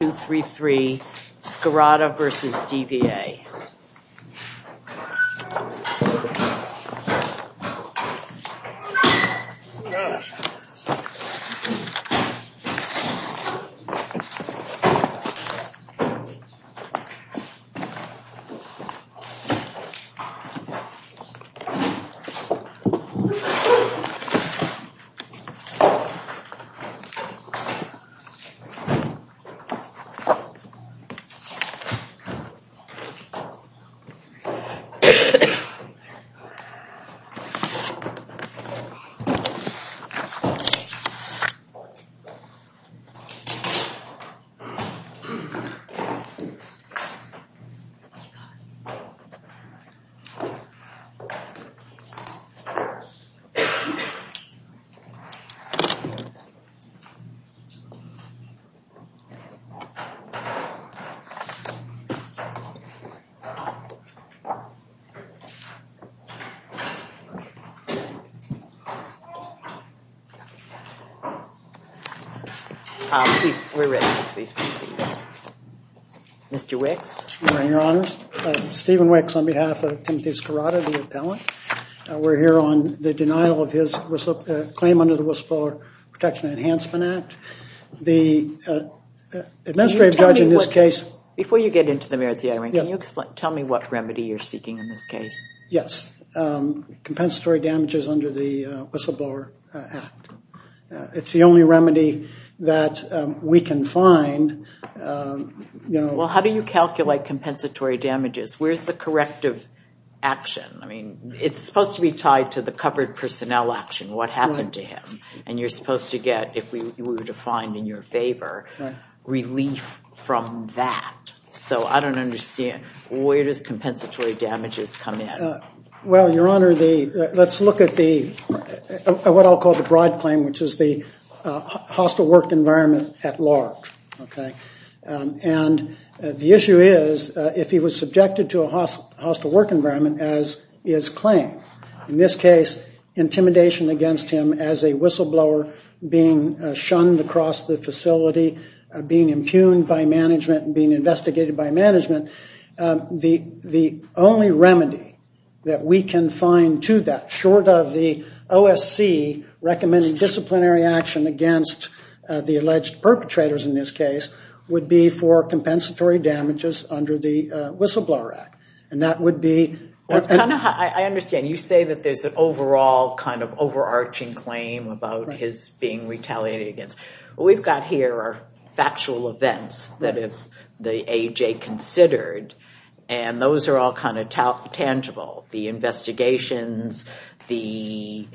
2, 3, 3, Skirata versus DVA. We're ready, please proceed. Mr. Wicks. Your Honor, Stephen Wicks on behalf of Timothy Skirata, the appellant. We're here on the denial of his claim under the Whistleblower Protection Enhancement Act. The administrative judge in this case... Before you get into the merits of the argument, can you tell me what remedy you're seeking in this case? Yes. Compensatory damages under the Whistleblower Act. It's the only remedy that we can find. Well, how do you calculate compensatory damages? Where's the corrective action? I mean, it's supposed to be tied to the covered personnel action, what happened to him. And you're supposed to get, if we were to find in your favor, relief from that. So I don't understand. Where does compensatory damages come in? Well, Your Honor, let's look at what I'll call the broad claim, which is the hostile work environment at large. And the issue is, if he was subjected to a hostile work environment, as is claimed, in this case, intimidation against him as a whistleblower, being shunned across the facility, being impugned by management, being investigated by management, the only remedy that we can find to that, short of the OSC recommending disciplinary action against the alleged perpetrators in this case, would be for compensatory damages under the Whistleblower Act. And that would be... I understand. You say that there's an overall kind of overarching claim about his being retaliated against. What we've got here are factual events that the AJ considered, and those are all kind of tangible. The investigations, the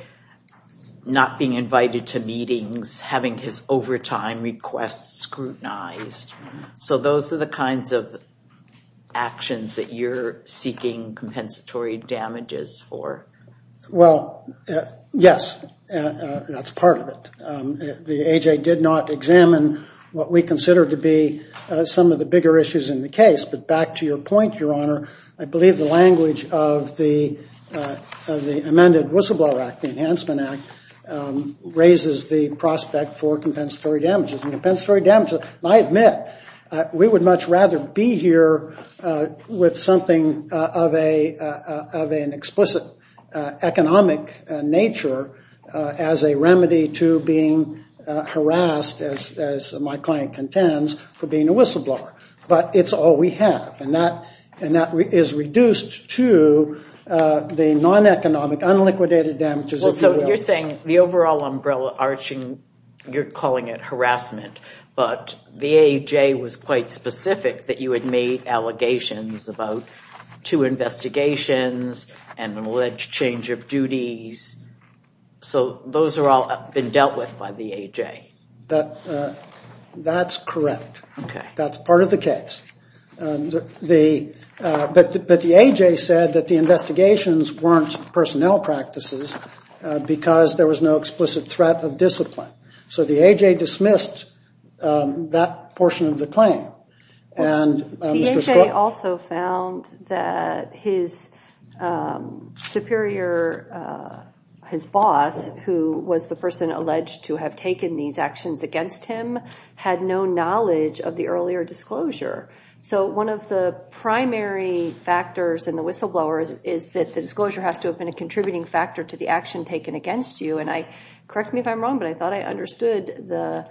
not being invited to meetings, having his overtime requests scrutinized. So those are the kinds of actions that you're seeking compensatory damages for. Well, yes, that's part of it. The AJ did not examine what we consider to be some of the bigger issues in the case. But back to your point, Your Honor, I believe the language of the amended Whistleblower Act, the Enhancement Act, raises the prospect for compensatory damages. I admit, we would much rather be here with something of an explicit economic nature as a remedy to being harassed, as my client contends, for being a whistleblower. But it's all we have, and that is reduced to the non-economic, unliquidated damages. So you're saying the overall umbrella arching, you're calling it harassment, but the AJ was quite specific that you had made allegations about two investigations and an alleged change of duties. So those are all been dealt with by the AJ. That's correct. That's part of the case. But the AJ said that the investigations weren't personnel practices because there was no explicit threat of discipline. So the AJ dismissed that portion of the claim. The AJ also found that his superior, his boss, who was the person alleged to have taken these actions against him, had no knowledge of the earlier disclosure. So one of the primary factors in the whistleblowers is that the disclosure has to have been a contributing factor to the action taken against you. And correct me if I'm wrong, but I thought I understood the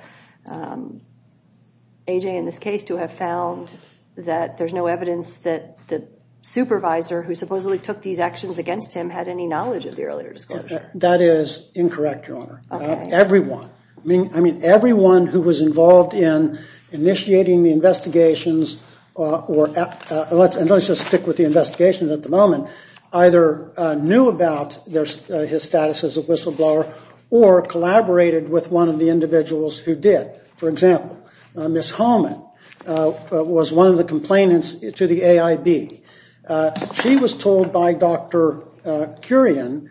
AJ in this case to have found that there's no evidence that the supervisor, who supposedly took these actions against him, had any knowledge of the earlier disclosure. That is incorrect, Your Honor. Everyone, I mean, everyone who was involved in initiating the investigations or let's just stick with the investigations at the moment, either knew about his status as a whistleblower or collaborated with one of the individuals who did. For example, Miss Holman was one of the complainants to the AIB. She was told by Dr. Curian,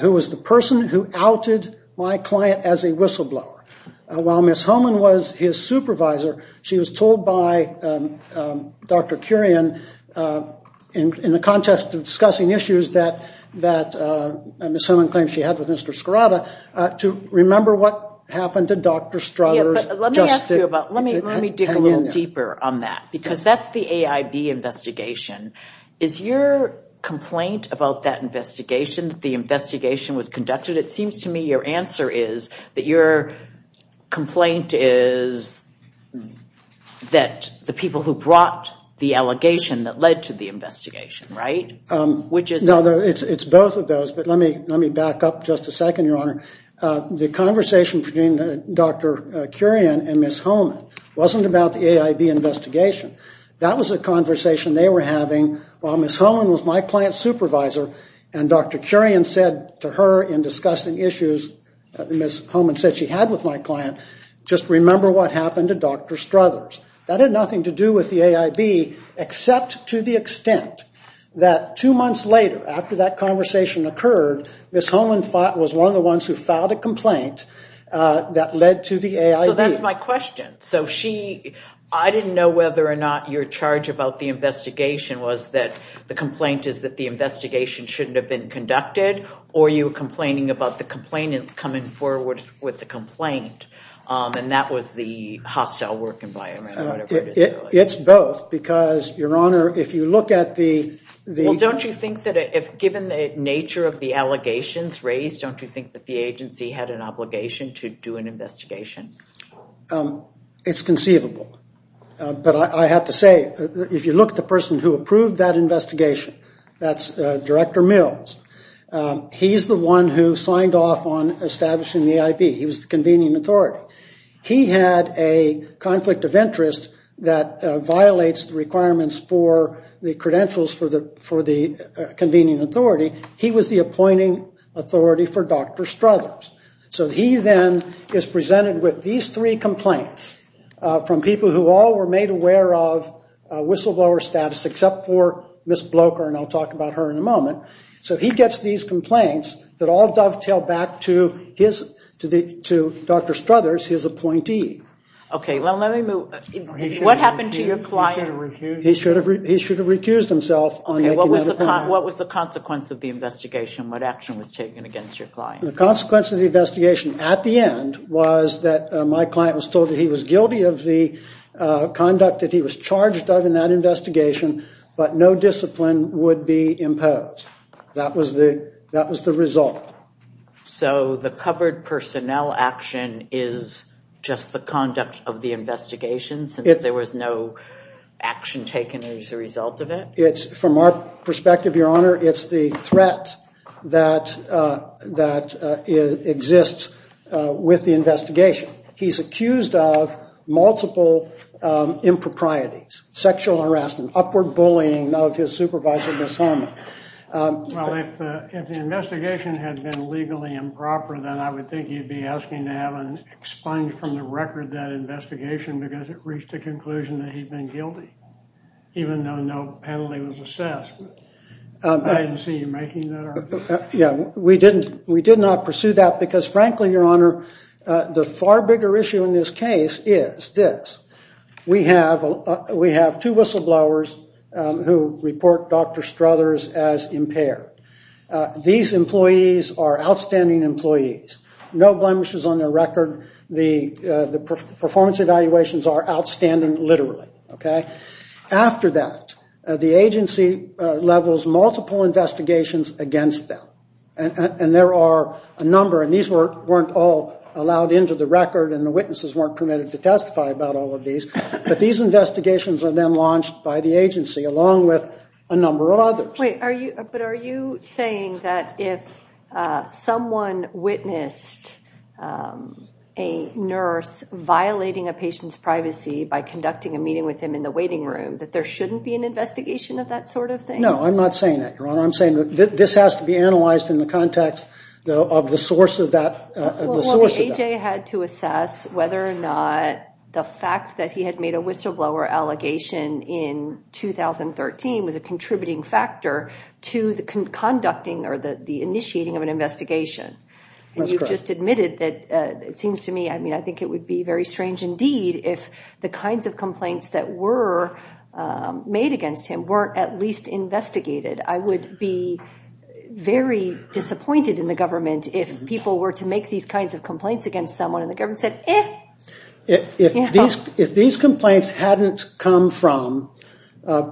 who was the person who outed my client as a whistleblower. While Miss Holman was his supervisor, she was told by Dr. Curian in the context of discussing issues that Miss Holman claimed she had with Mr. Is your complaint about that investigation that the investigation was conducted? It seems to me your answer is that your complaint is that the people who brought the allegation that led to the investigation, right? No, it's both of those, but let me back up just a second, Your Honor. The conversation between Dr. Curian and Miss Holman wasn't about the AIB investigation. That was a conversation they were having while Miss Holman was my client's supervisor, and Dr. Curian said to her in discussing issues that Miss Holman said she had with my client, just remember what happened to Dr. Struthers. That had nothing to do with the AIB except to the extent that two months later after that conversation occurred, Miss Holman was one of the ones who filed a complaint that led to the AIB. So that's my question. I didn't know whether or not your charge about the investigation was that the complaint is that the investigation shouldn't have been conducted, or you were complaining about the complainants coming forward with the complaint, and that was the hostile work environment. It's both because, Your Honor, if you look at the... Given the nature of the allegations raised, don't you think that the agency had an obligation to do an investigation? It's conceivable, but I have to say, if you look at the person who approved that investigation, that's Director Mills. He's the one who signed off on establishing the AIB. He was the convening authority. He had a conflict of interest that violates the requirements for the credentials for the convening authority. He was the appointing authority for Dr. Struthers. So he then is presented with these three complaints from people who all were made aware of whistleblower status, except for Miss Blocher, and I'll talk about her in a moment. So he gets these complaints that all dovetail back to Dr. Struthers, his appointee. Okay, well, let me move... What happened to your client? He should have recused himself. Okay, what was the consequence of the investigation? What action was taken against your client? The consequence of the investigation, at the end, was that my client was told that he was guilty of the conduct that he was charged of in that investigation, but no discipline would be imposed. That was the result. So the covered personnel action is just the conduct of the investigation, since there was no action taken as a result of it? From our perspective, Your Honor, it's the threat that exists with the investigation. He's accused of multiple improprieties, sexual harassment, upward bullying of his supervisor, Miss Holman. Well, if the investigation had been legally improper, then I would think he'd be asking to have it expunged from the record, that investigation, because it reached the conclusion that he'd been guilty, even though no penalty was assessed. I didn't see you making that argument. We did not pursue that because, frankly, Your Honor, the far bigger issue in this case is this. We have two whistleblowers who report Dr. Struthers as impaired. These employees are outstanding employees. No blemishes on their record. The performance evaluations are outstanding, literally. After that, the agency levels multiple investigations against them, and there are a number. And these weren't all allowed into the record, and the witnesses weren't permitted to testify about all of these. But these investigations are then launched by the agency, along with a number of others. But are you saying that if someone witnessed a nurse violating a patient's privacy by conducting a meeting with him in the waiting room, that there shouldn't be an investigation of that sort of thing? No, I'm not saying that, Your Honor. I'm saying this has to be analyzed in the context of the source of that. Well, the A.J. had to assess whether or not the fact that he had made a whistleblower allegation in 2013 was a contributing factor to the conducting or the initiating of an investigation. And you've just admitted that it seems to me, I mean, I think it would be very strange indeed if the kinds of complaints that were made against him weren't at least investigated. I would be very disappointed in the government if people were to make these kinds of complaints against someone and the government said, eh. If these complaints hadn't come from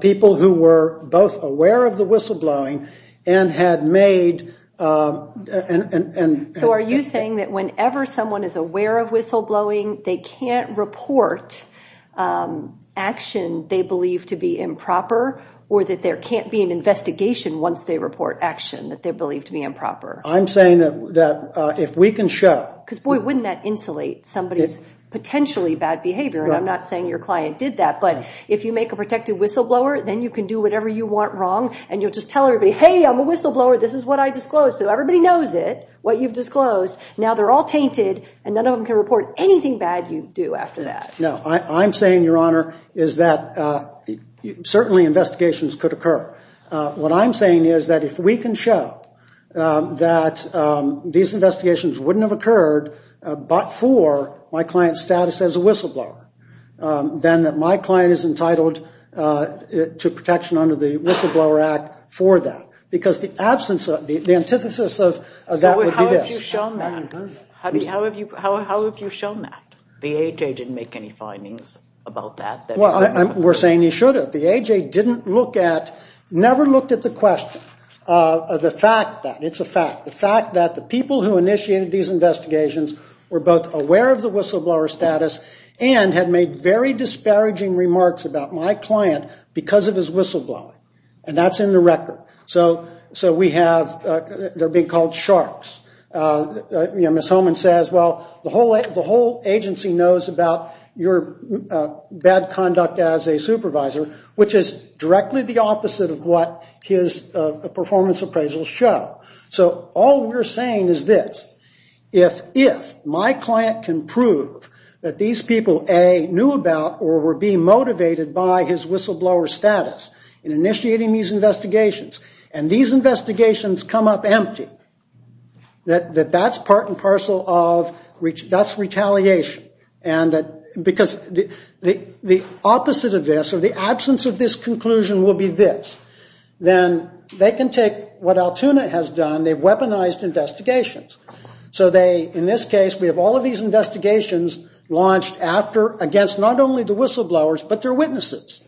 people who were both aware of the whistleblowing and had made... So are you saying that whenever someone is aware of whistleblowing, they can't report action they believe to be improper? Or that there can't be an investigation once they report action that they believe to be improper? I'm saying that if we can show... Because, boy, wouldn't that insulate somebody's potentially bad behavior? Right. And I'm not saying your client did that, but if you make a protected whistleblower, then you can do whatever you want wrong and you'll just tell everybody, hey, I'm a whistleblower, this is what I disclosed to. Everybody knows it, what you've disclosed. Now they're all tainted and none of them can report anything bad you do after that. No. I'm saying, Your Honor, is that certainly investigations could occur. What I'm saying is that if we can show that these investigations wouldn't have occurred but for my client's status as a whistleblower, then that my client is entitled to protection under the Whistleblower Act for that. Because the absence of, the antithesis of that would be this. How have you shown that? The A.J. didn't make any findings about that? Well, we're saying he should have. The A.J. didn't look at, never looked at the question. The fact that, it's a fact, the fact that the people who initiated these investigations were both aware of the whistleblower status and had made very disparaging remarks about my client because of his whistleblowing. And that's in the record. So we have, they're being called sharks. Ms. Holman says, Well, the whole agency knows about your bad conduct as a supervisor, which is directly the opposite of what his performance appraisals show. So all we're saying is this. If my client can prove that these people, A, knew about or were being motivated by his whistleblower status in initiating these investigations and these investigations come up empty, that that's part and parcel of, that's retaliation. And because the opposite of this or the absence of this conclusion will be this. Then they can take what Altoona has done. They've weaponized investigations. So they, in this case, we have all of these investigations launched after, against not only the whistleblowers, but their witnesses.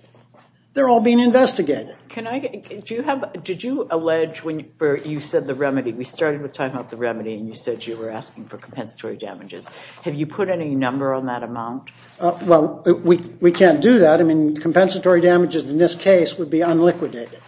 They're all being investigated. Can I, do you have, did you allege when you said the remedy, we started with talking about the remedy and you said you were asking for compensatory damages. Have you put any number on that amount? Well, we can't do that. I mean, compensatory damages in this case would be unliquidated.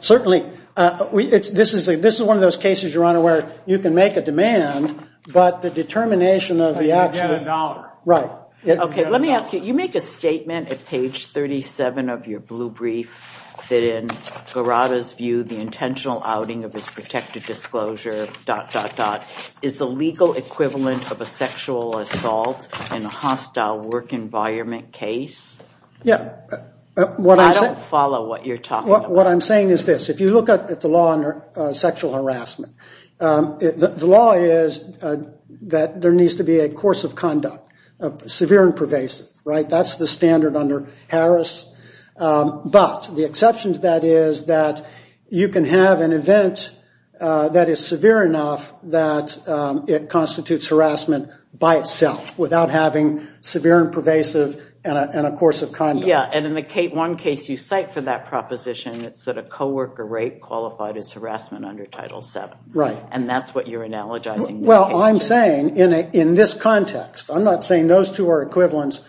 Certainly, this is one of those cases, Your Honor, where you can make a demand, but the determination of the action. But you get a dollar. Right. Okay, let me ask you, you make a statement at page 37 of your blue brief, that in Guarada's view, the intentional outing of his protective disclosure, dot, dot, dot, is the legal equivalent of a sexual assault in a hostile work environment case? Yeah. I don't follow what you're talking about. What I'm saying is this. If you look at the law on sexual harassment, the law is that there needs to be a course of conduct, severe and pervasive. Right? That's the standard under Harris. But the exception to that is that you can have an event that is severe enough that it constitutes harassment by itself, Yeah, and in the one case you cite for that proposition, it's that a co-worker rape qualified as harassment under Title VII. Right. And that's what you're analogizing in this case. Well, I'm saying in this context, I'm not saying those two are equivalents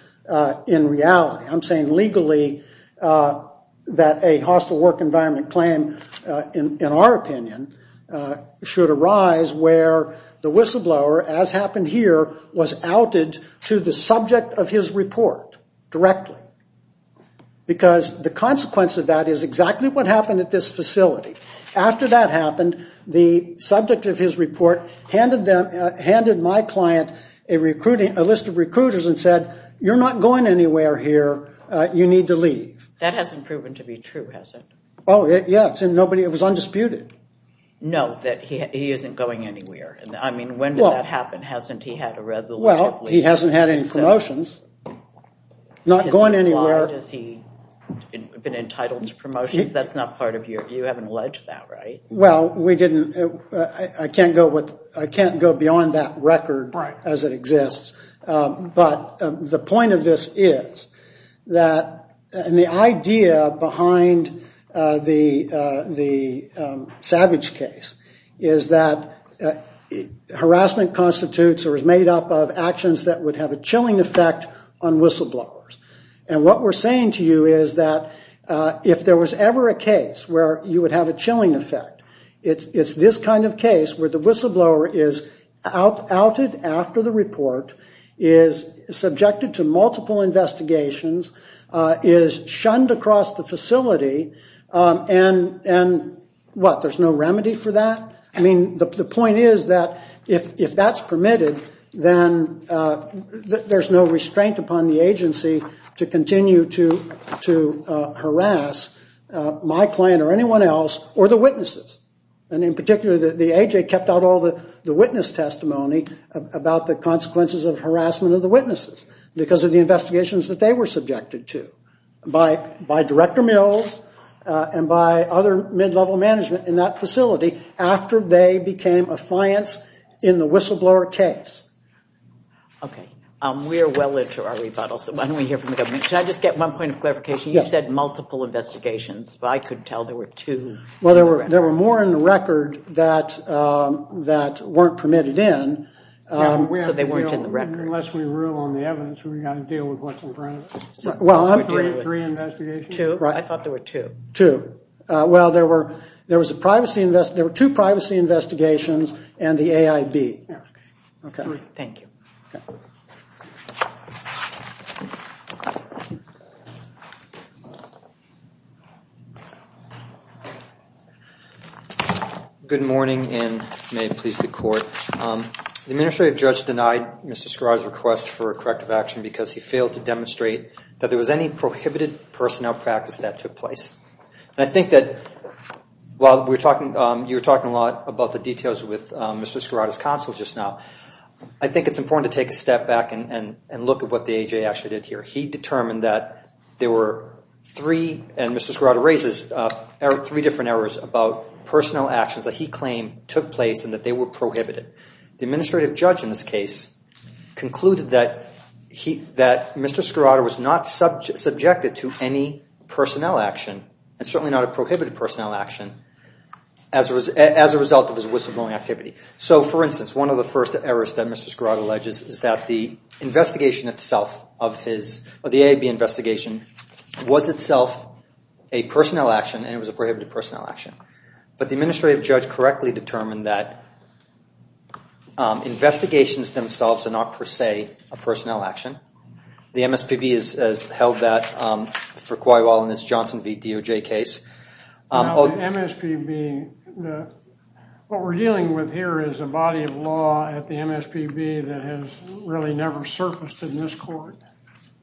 in reality. I'm saying legally that a hostile work environment claim, in our opinion, should arise where the whistleblower, as happened here, was outed to the subject of his report directly. Because the consequence of that is exactly what happened at this facility. After that happened, the subject of his report handed my client a list of recruiters and said, You're not going anywhere here. You need to leave. That hasn't proven to be true, has it? Oh, yes. It was undisputed. No, that he isn't going anywhere. I mean, when did that happen? Hasn't he had a resolution? Well, he hasn't had any promotions. Not going anywhere. Has he been entitled to promotions? That's not part of your, you haven't alleged that, right? Well, we didn't, I can't go beyond that record as it exists. But the point of this is that the idea behind the Savage case is that harassment constitutes or is made up of actions that would have a chilling effect on whistleblowers. And what we're saying to you is that if there was ever a case where you would have a chilling effect, it's this kind of case where the whistleblower is outed after the report, is subjected to multiple investigations, is shunned across the facility, and what, there's no remedy for that? I mean, the point is that if that's permitted, then there's no restraint upon the agency to continue to harass my client or anyone else or the witnesses. And in particular, the AJ kept out all the witness testimony about the consequences of harassment of the witnesses because of the investigations that they were subjected to by Director Mills and by other mid-level management in that facility after they became a science in the whistleblower case. Okay, we are well into our rebuttal, so why don't we hear from the government? Can I just get one point of clarification? You said multiple investigations, but I could tell there were two. Well, there were more in the record that weren't permitted in. So they weren't in the record. Unless we rule on the evidence, we've got to deal with what's in front of us. Well, I'm agreeing with three investigations. I thought there were two. Two. Well, there were two privacy investigations and the AIB. Okay. Thank you. Good morning, and may it please the Court. The administrative judge denied Mr. Skra's request for corrective action because he failed to demonstrate that there was any prohibited personnel practice that took place. And I think that while you were talking a lot about the details with Mr. Skrauta's counsel just now, I think it's important to take a step back and look at what the AJ actually did here. He determined that there were three, and Mr. Skrauta raises three different errors, about personnel actions that he claimed took place and that they were prohibited. The administrative judge in this case concluded that Mr. Skrauta was not subjected to any personnel action and certainly not a prohibited personnel action as a result of his whistleblowing activity. So, for instance, one of the first errors that Mr. Skrauta alleges is that the investigation itself, the AIB investigation, was itself a personnel action and it was a prohibited personnel action. But the administrative judge correctly determined that investigations themselves are not per se a personnel action. The MSPB has held that for quite a while in this Johnson v. DOJ case. MSPB, what we're dealing with here is a body of law at the MSPB that has really never surfaced in this court.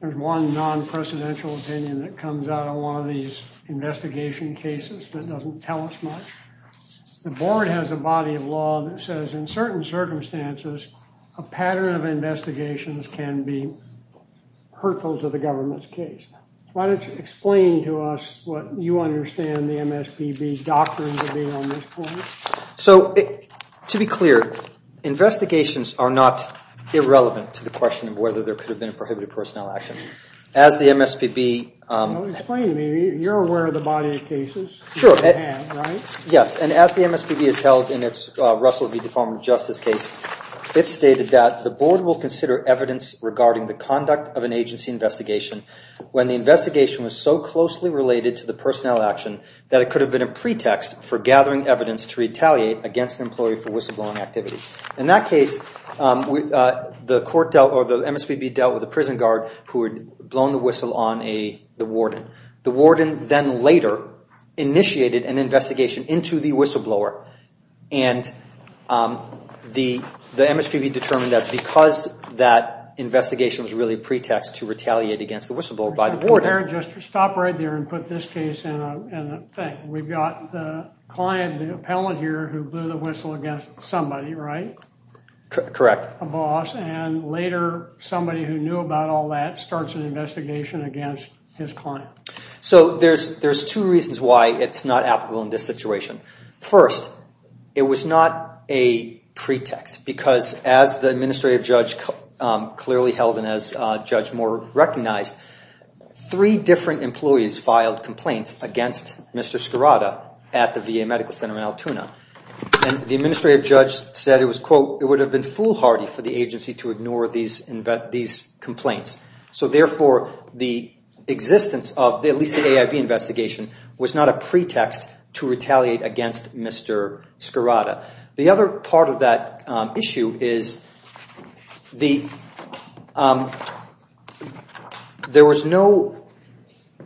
There's one non-presidential opinion that comes out of one of these investigation cases that doesn't tell us much. The board has a body of law that says in certain circumstances, a pattern of investigations can be hurtful to the government's case. Why don't you explain to us what you understand the MSPB's doctrine to be on this point? So, to be clear, investigations are not irrelevant to the question of whether there could have been a prohibited personnel action. As the MSPB... Explain to me. You're aware of the body of cases? Sure. You have, right? Yes, and as the MSPB has held in its Russell v. Department of Justice case, it stated that the board will consider evidence regarding the conduct of an agency investigation when the investigation was so closely related to the personnel action that it could have been a pretext for gathering evidence to retaliate against an employee for whistleblowing activity. In that case, the MSPB dealt with a prison guard who had blown the whistle on the warden. The warden then later initiated an investigation into the whistleblower, and the MSPB determined that because that investigation was really a pretext to retaliate against the whistleblower by the warden... We've got the client, the appellant here, who blew the whistle against somebody, right? Correct. A boss, and later somebody who knew about all that starts an investigation against his client. So there's two reasons why it's not applicable in this situation. First, it was not a pretext, because as the administrative judge clearly held and as Judge Moore recognized, three different employees filed complaints against Mr. Scarrata at the VA Medical Center in Altoona. And the administrative judge said it was, quote, it would have been foolhardy for the agency to ignore these complaints. So therefore, the existence of at least the AIB investigation was not a pretext to retaliate against Mr. Scarrata. The other part of that issue is there was no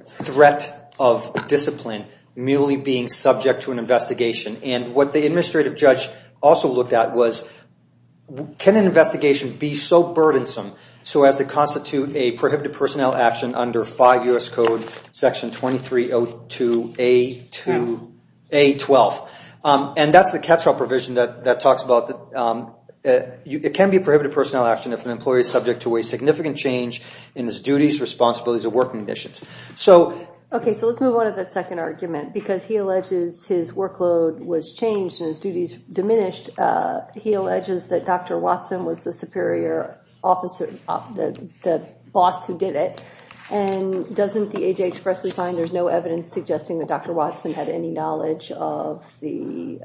threat of discipline merely being subject to an investigation. And what the administrative judge also looked at was, can an investigation be so burdensome, so as to constitute a prohibited personnel action under 5 U.S. Code Section 2302A12? And that's the catch-all provision that talks about it can be a prohibited personnel action if an employee is subject to a significant change in his duties, responsibilities, or working conditions. Okay, so let's move on to that second argument. Because he alleges his workload was changed and his duties diminished, he alleges that Dr. Watson was the superior officer, the boss who did it. And doesn't the AJA expressly find there's no evidence suggesting that Dr. Watson had any knowledge of the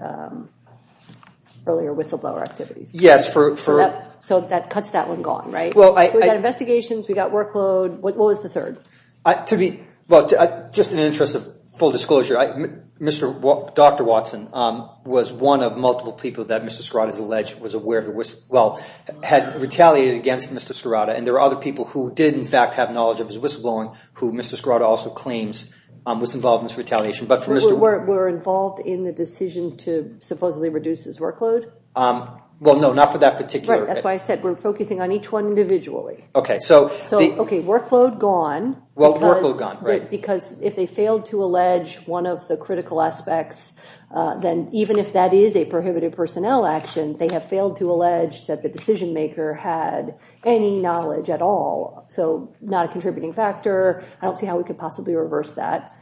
earlier whistleblower activities? Yes. So that cuts that one gone, right? We've got investigations. We've got workload. What was the third? To be – well, just in the interest of full disclosure, Dr. Watson was one of multiple people that Mr. Scarrata has alleged was aware of – well, had retaliated against Mr. Scarrata. And there are other people who did, in fact, have knowledge of his whistleblowing who Mr. Scarrata also claims was involved in this retaliation. But for Mr. – Were involved in the decision to supposedly reduce his workload? Well, no, not for that particular – Right. That's why I said we're focusing on each one individually. Okay. So the – Okay, workload gone. Well, workload gone, right. Because if they failed to allege one of the critical aspects, then even if that is a prohibited personnel action, they have failed to allege that the decision-maker had any knowledge at all. So not a contributing factor. I don't see how we could possibly reverse that,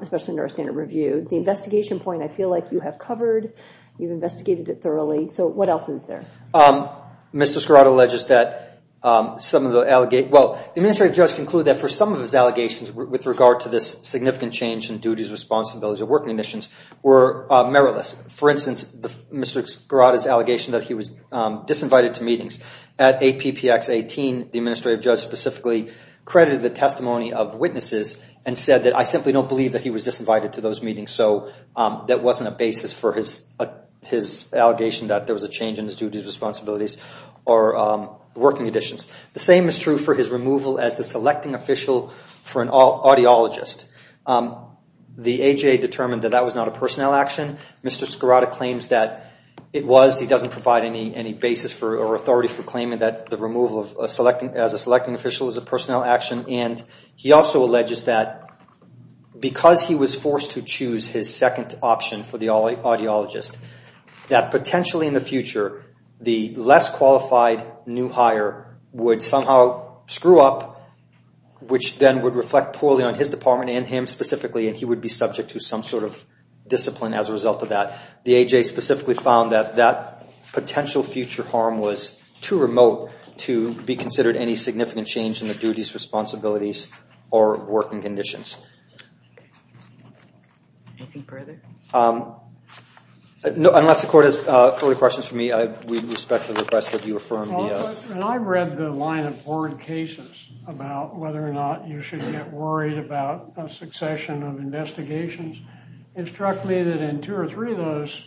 especially under our standard review. The investigation point I feel like you have covered. You've investigated it thoroughly. So what else is there? Mr. Scarrata alleges that some of the – well, the administrative judge concluded that for some of his allegations with regard to this significant change in duties, responsibilities, or working conditions were meritless. For instance, Mr. Scarrata's allegation that he was disinvited to meetings. At APPX 18, the administrative judge specifically credited the testimony of witnesses and said that I simply don't believe that he was disinvited to those meetings. So that wasn't a basis for his allegation that there was a change in his duties, responsibilities, or working conditions. The same is true for his removal as the selecting official for an audiologist. The AJA determined that that was not a personnel action. Mr. Scarrata claims that it was. He doesn't provide any basis or authority for claiming that the removal as a selecting official is a personnel action. And he also alleges that because he was forced to choose his second option for the audiologist, that potentially in the future the less qualified new hire would somehow screw up, which then would reflect poorly on his department and him specifically, and he would be subject to some sort of discipline as a result of that. The AJA specifically found that that potential future harm was too remote to be considered any significant change in the duties, responsibilities, or working conditions. Unless the court has further questions for me, I would respectfully request that you affirm the- When I read the line of board cases about whether or not you should get worried about a succession of investigations, it struck me that in two or three of those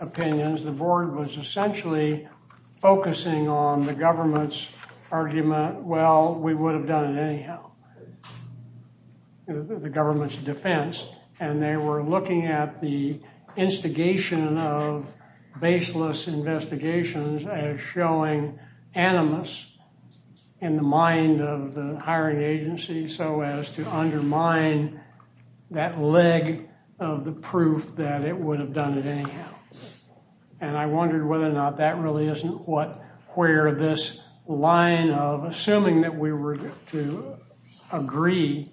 opinions, the board was essentially focusing on the government's argument, well, we would have done it anyhow. The government's defense, and they were looking at the instigation of baseless investigations as showing animus in the mind of the hiring agency, so as to undermine that leg of the proof that it would have done it anyhow. And I wondered whether or not that really isn't where this line of assuming that we were to agree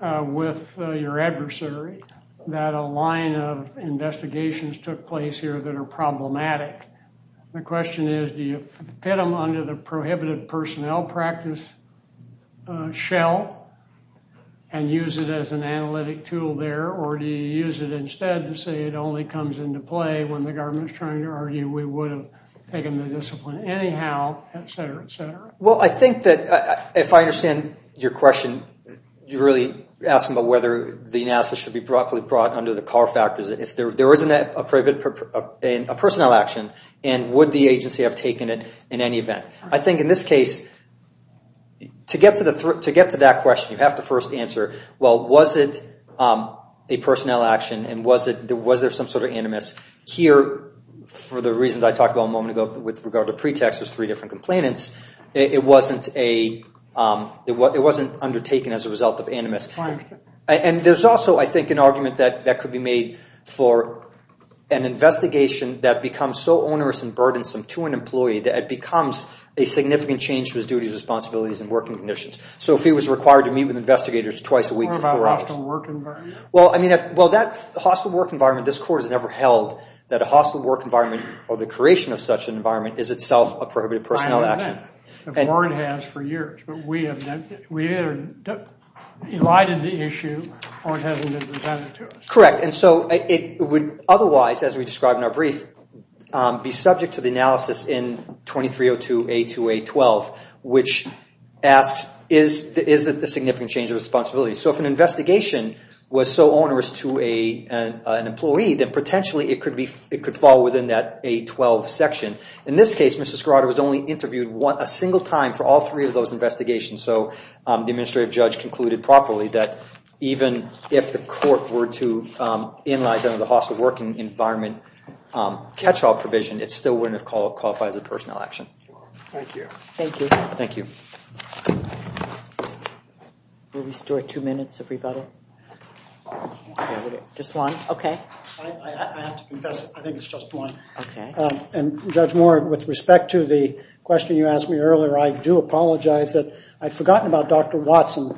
with your adversary, that a line of investigations took place here that are problematic. The question is, do you fit them under the prohibited personnel practice shell and use it as an analytic tool there, or do you use it instead to say it only comes into play when the government is trying to argue we would have taken the discipline anyhow, et cetera, et cetera? Well, I think that if I understand your question, you're really asking about whether the analysis should be brought under the car factors. If there isn't a personnel action, and would the agency have taken it in any event? I think in this case, to get to that question, you have to first answer, well, was it a personnel action and was there some sort of animus? Here, for the reasons I talked about a moment ago with regard to pretext, there's three different complainants, it wasn't undertaken as a result of animus. And there's also, I think, an argument that could be made for an investigation that becomes so onerous and burdensome to an employee that it becomes a significant change to his duties, responsibilities, and working conditions. So if he was required to meet with investigators twice a week for four hours. What about a hostile work environment? Well, that hostile work environment, this court has never held that a hostile work environment or the creation of such an environment is itself a prohibited personnel action. The court has for years. But we have either elided the issue or it hasn't been presented to us. Correct. And so it would otherwise, as we described in our brief, be subject to the analysis in 2302A2A12, which asks, is it a significant change of responsibility? So if an investigation was so onerous to an employee, then potentially it could fall within that A12 section. In this case, Mr. Scarrato was only interviewed a single time for all three of those investigations. So the administrative judge concluded properly that even if the court were to inline under the hostile working environment catch-all provision, it still wouldn't have qualified as a personnel action. Thank you. Thank you. Thank you. We'll restore two minutes, everybody. Just one? Okay. I have to confess, I think it's just one. Okay. And Judge Moore, with respect to the question you asked me earlier, I do apologize that I'd forgotten about Dr. Watson.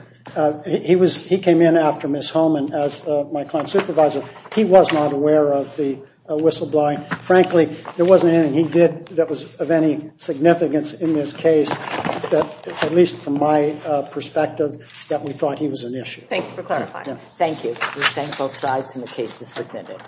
He came in after Ms. Holman as my client supervisor. He was not aware of the whistleblowing. Frankly, there wasn't anything he did that was of any significance in this case, at least from my perspective, that we thought he was an issue. Thank you for clarifying. Thank you. We thank both sides, and the case is submitted.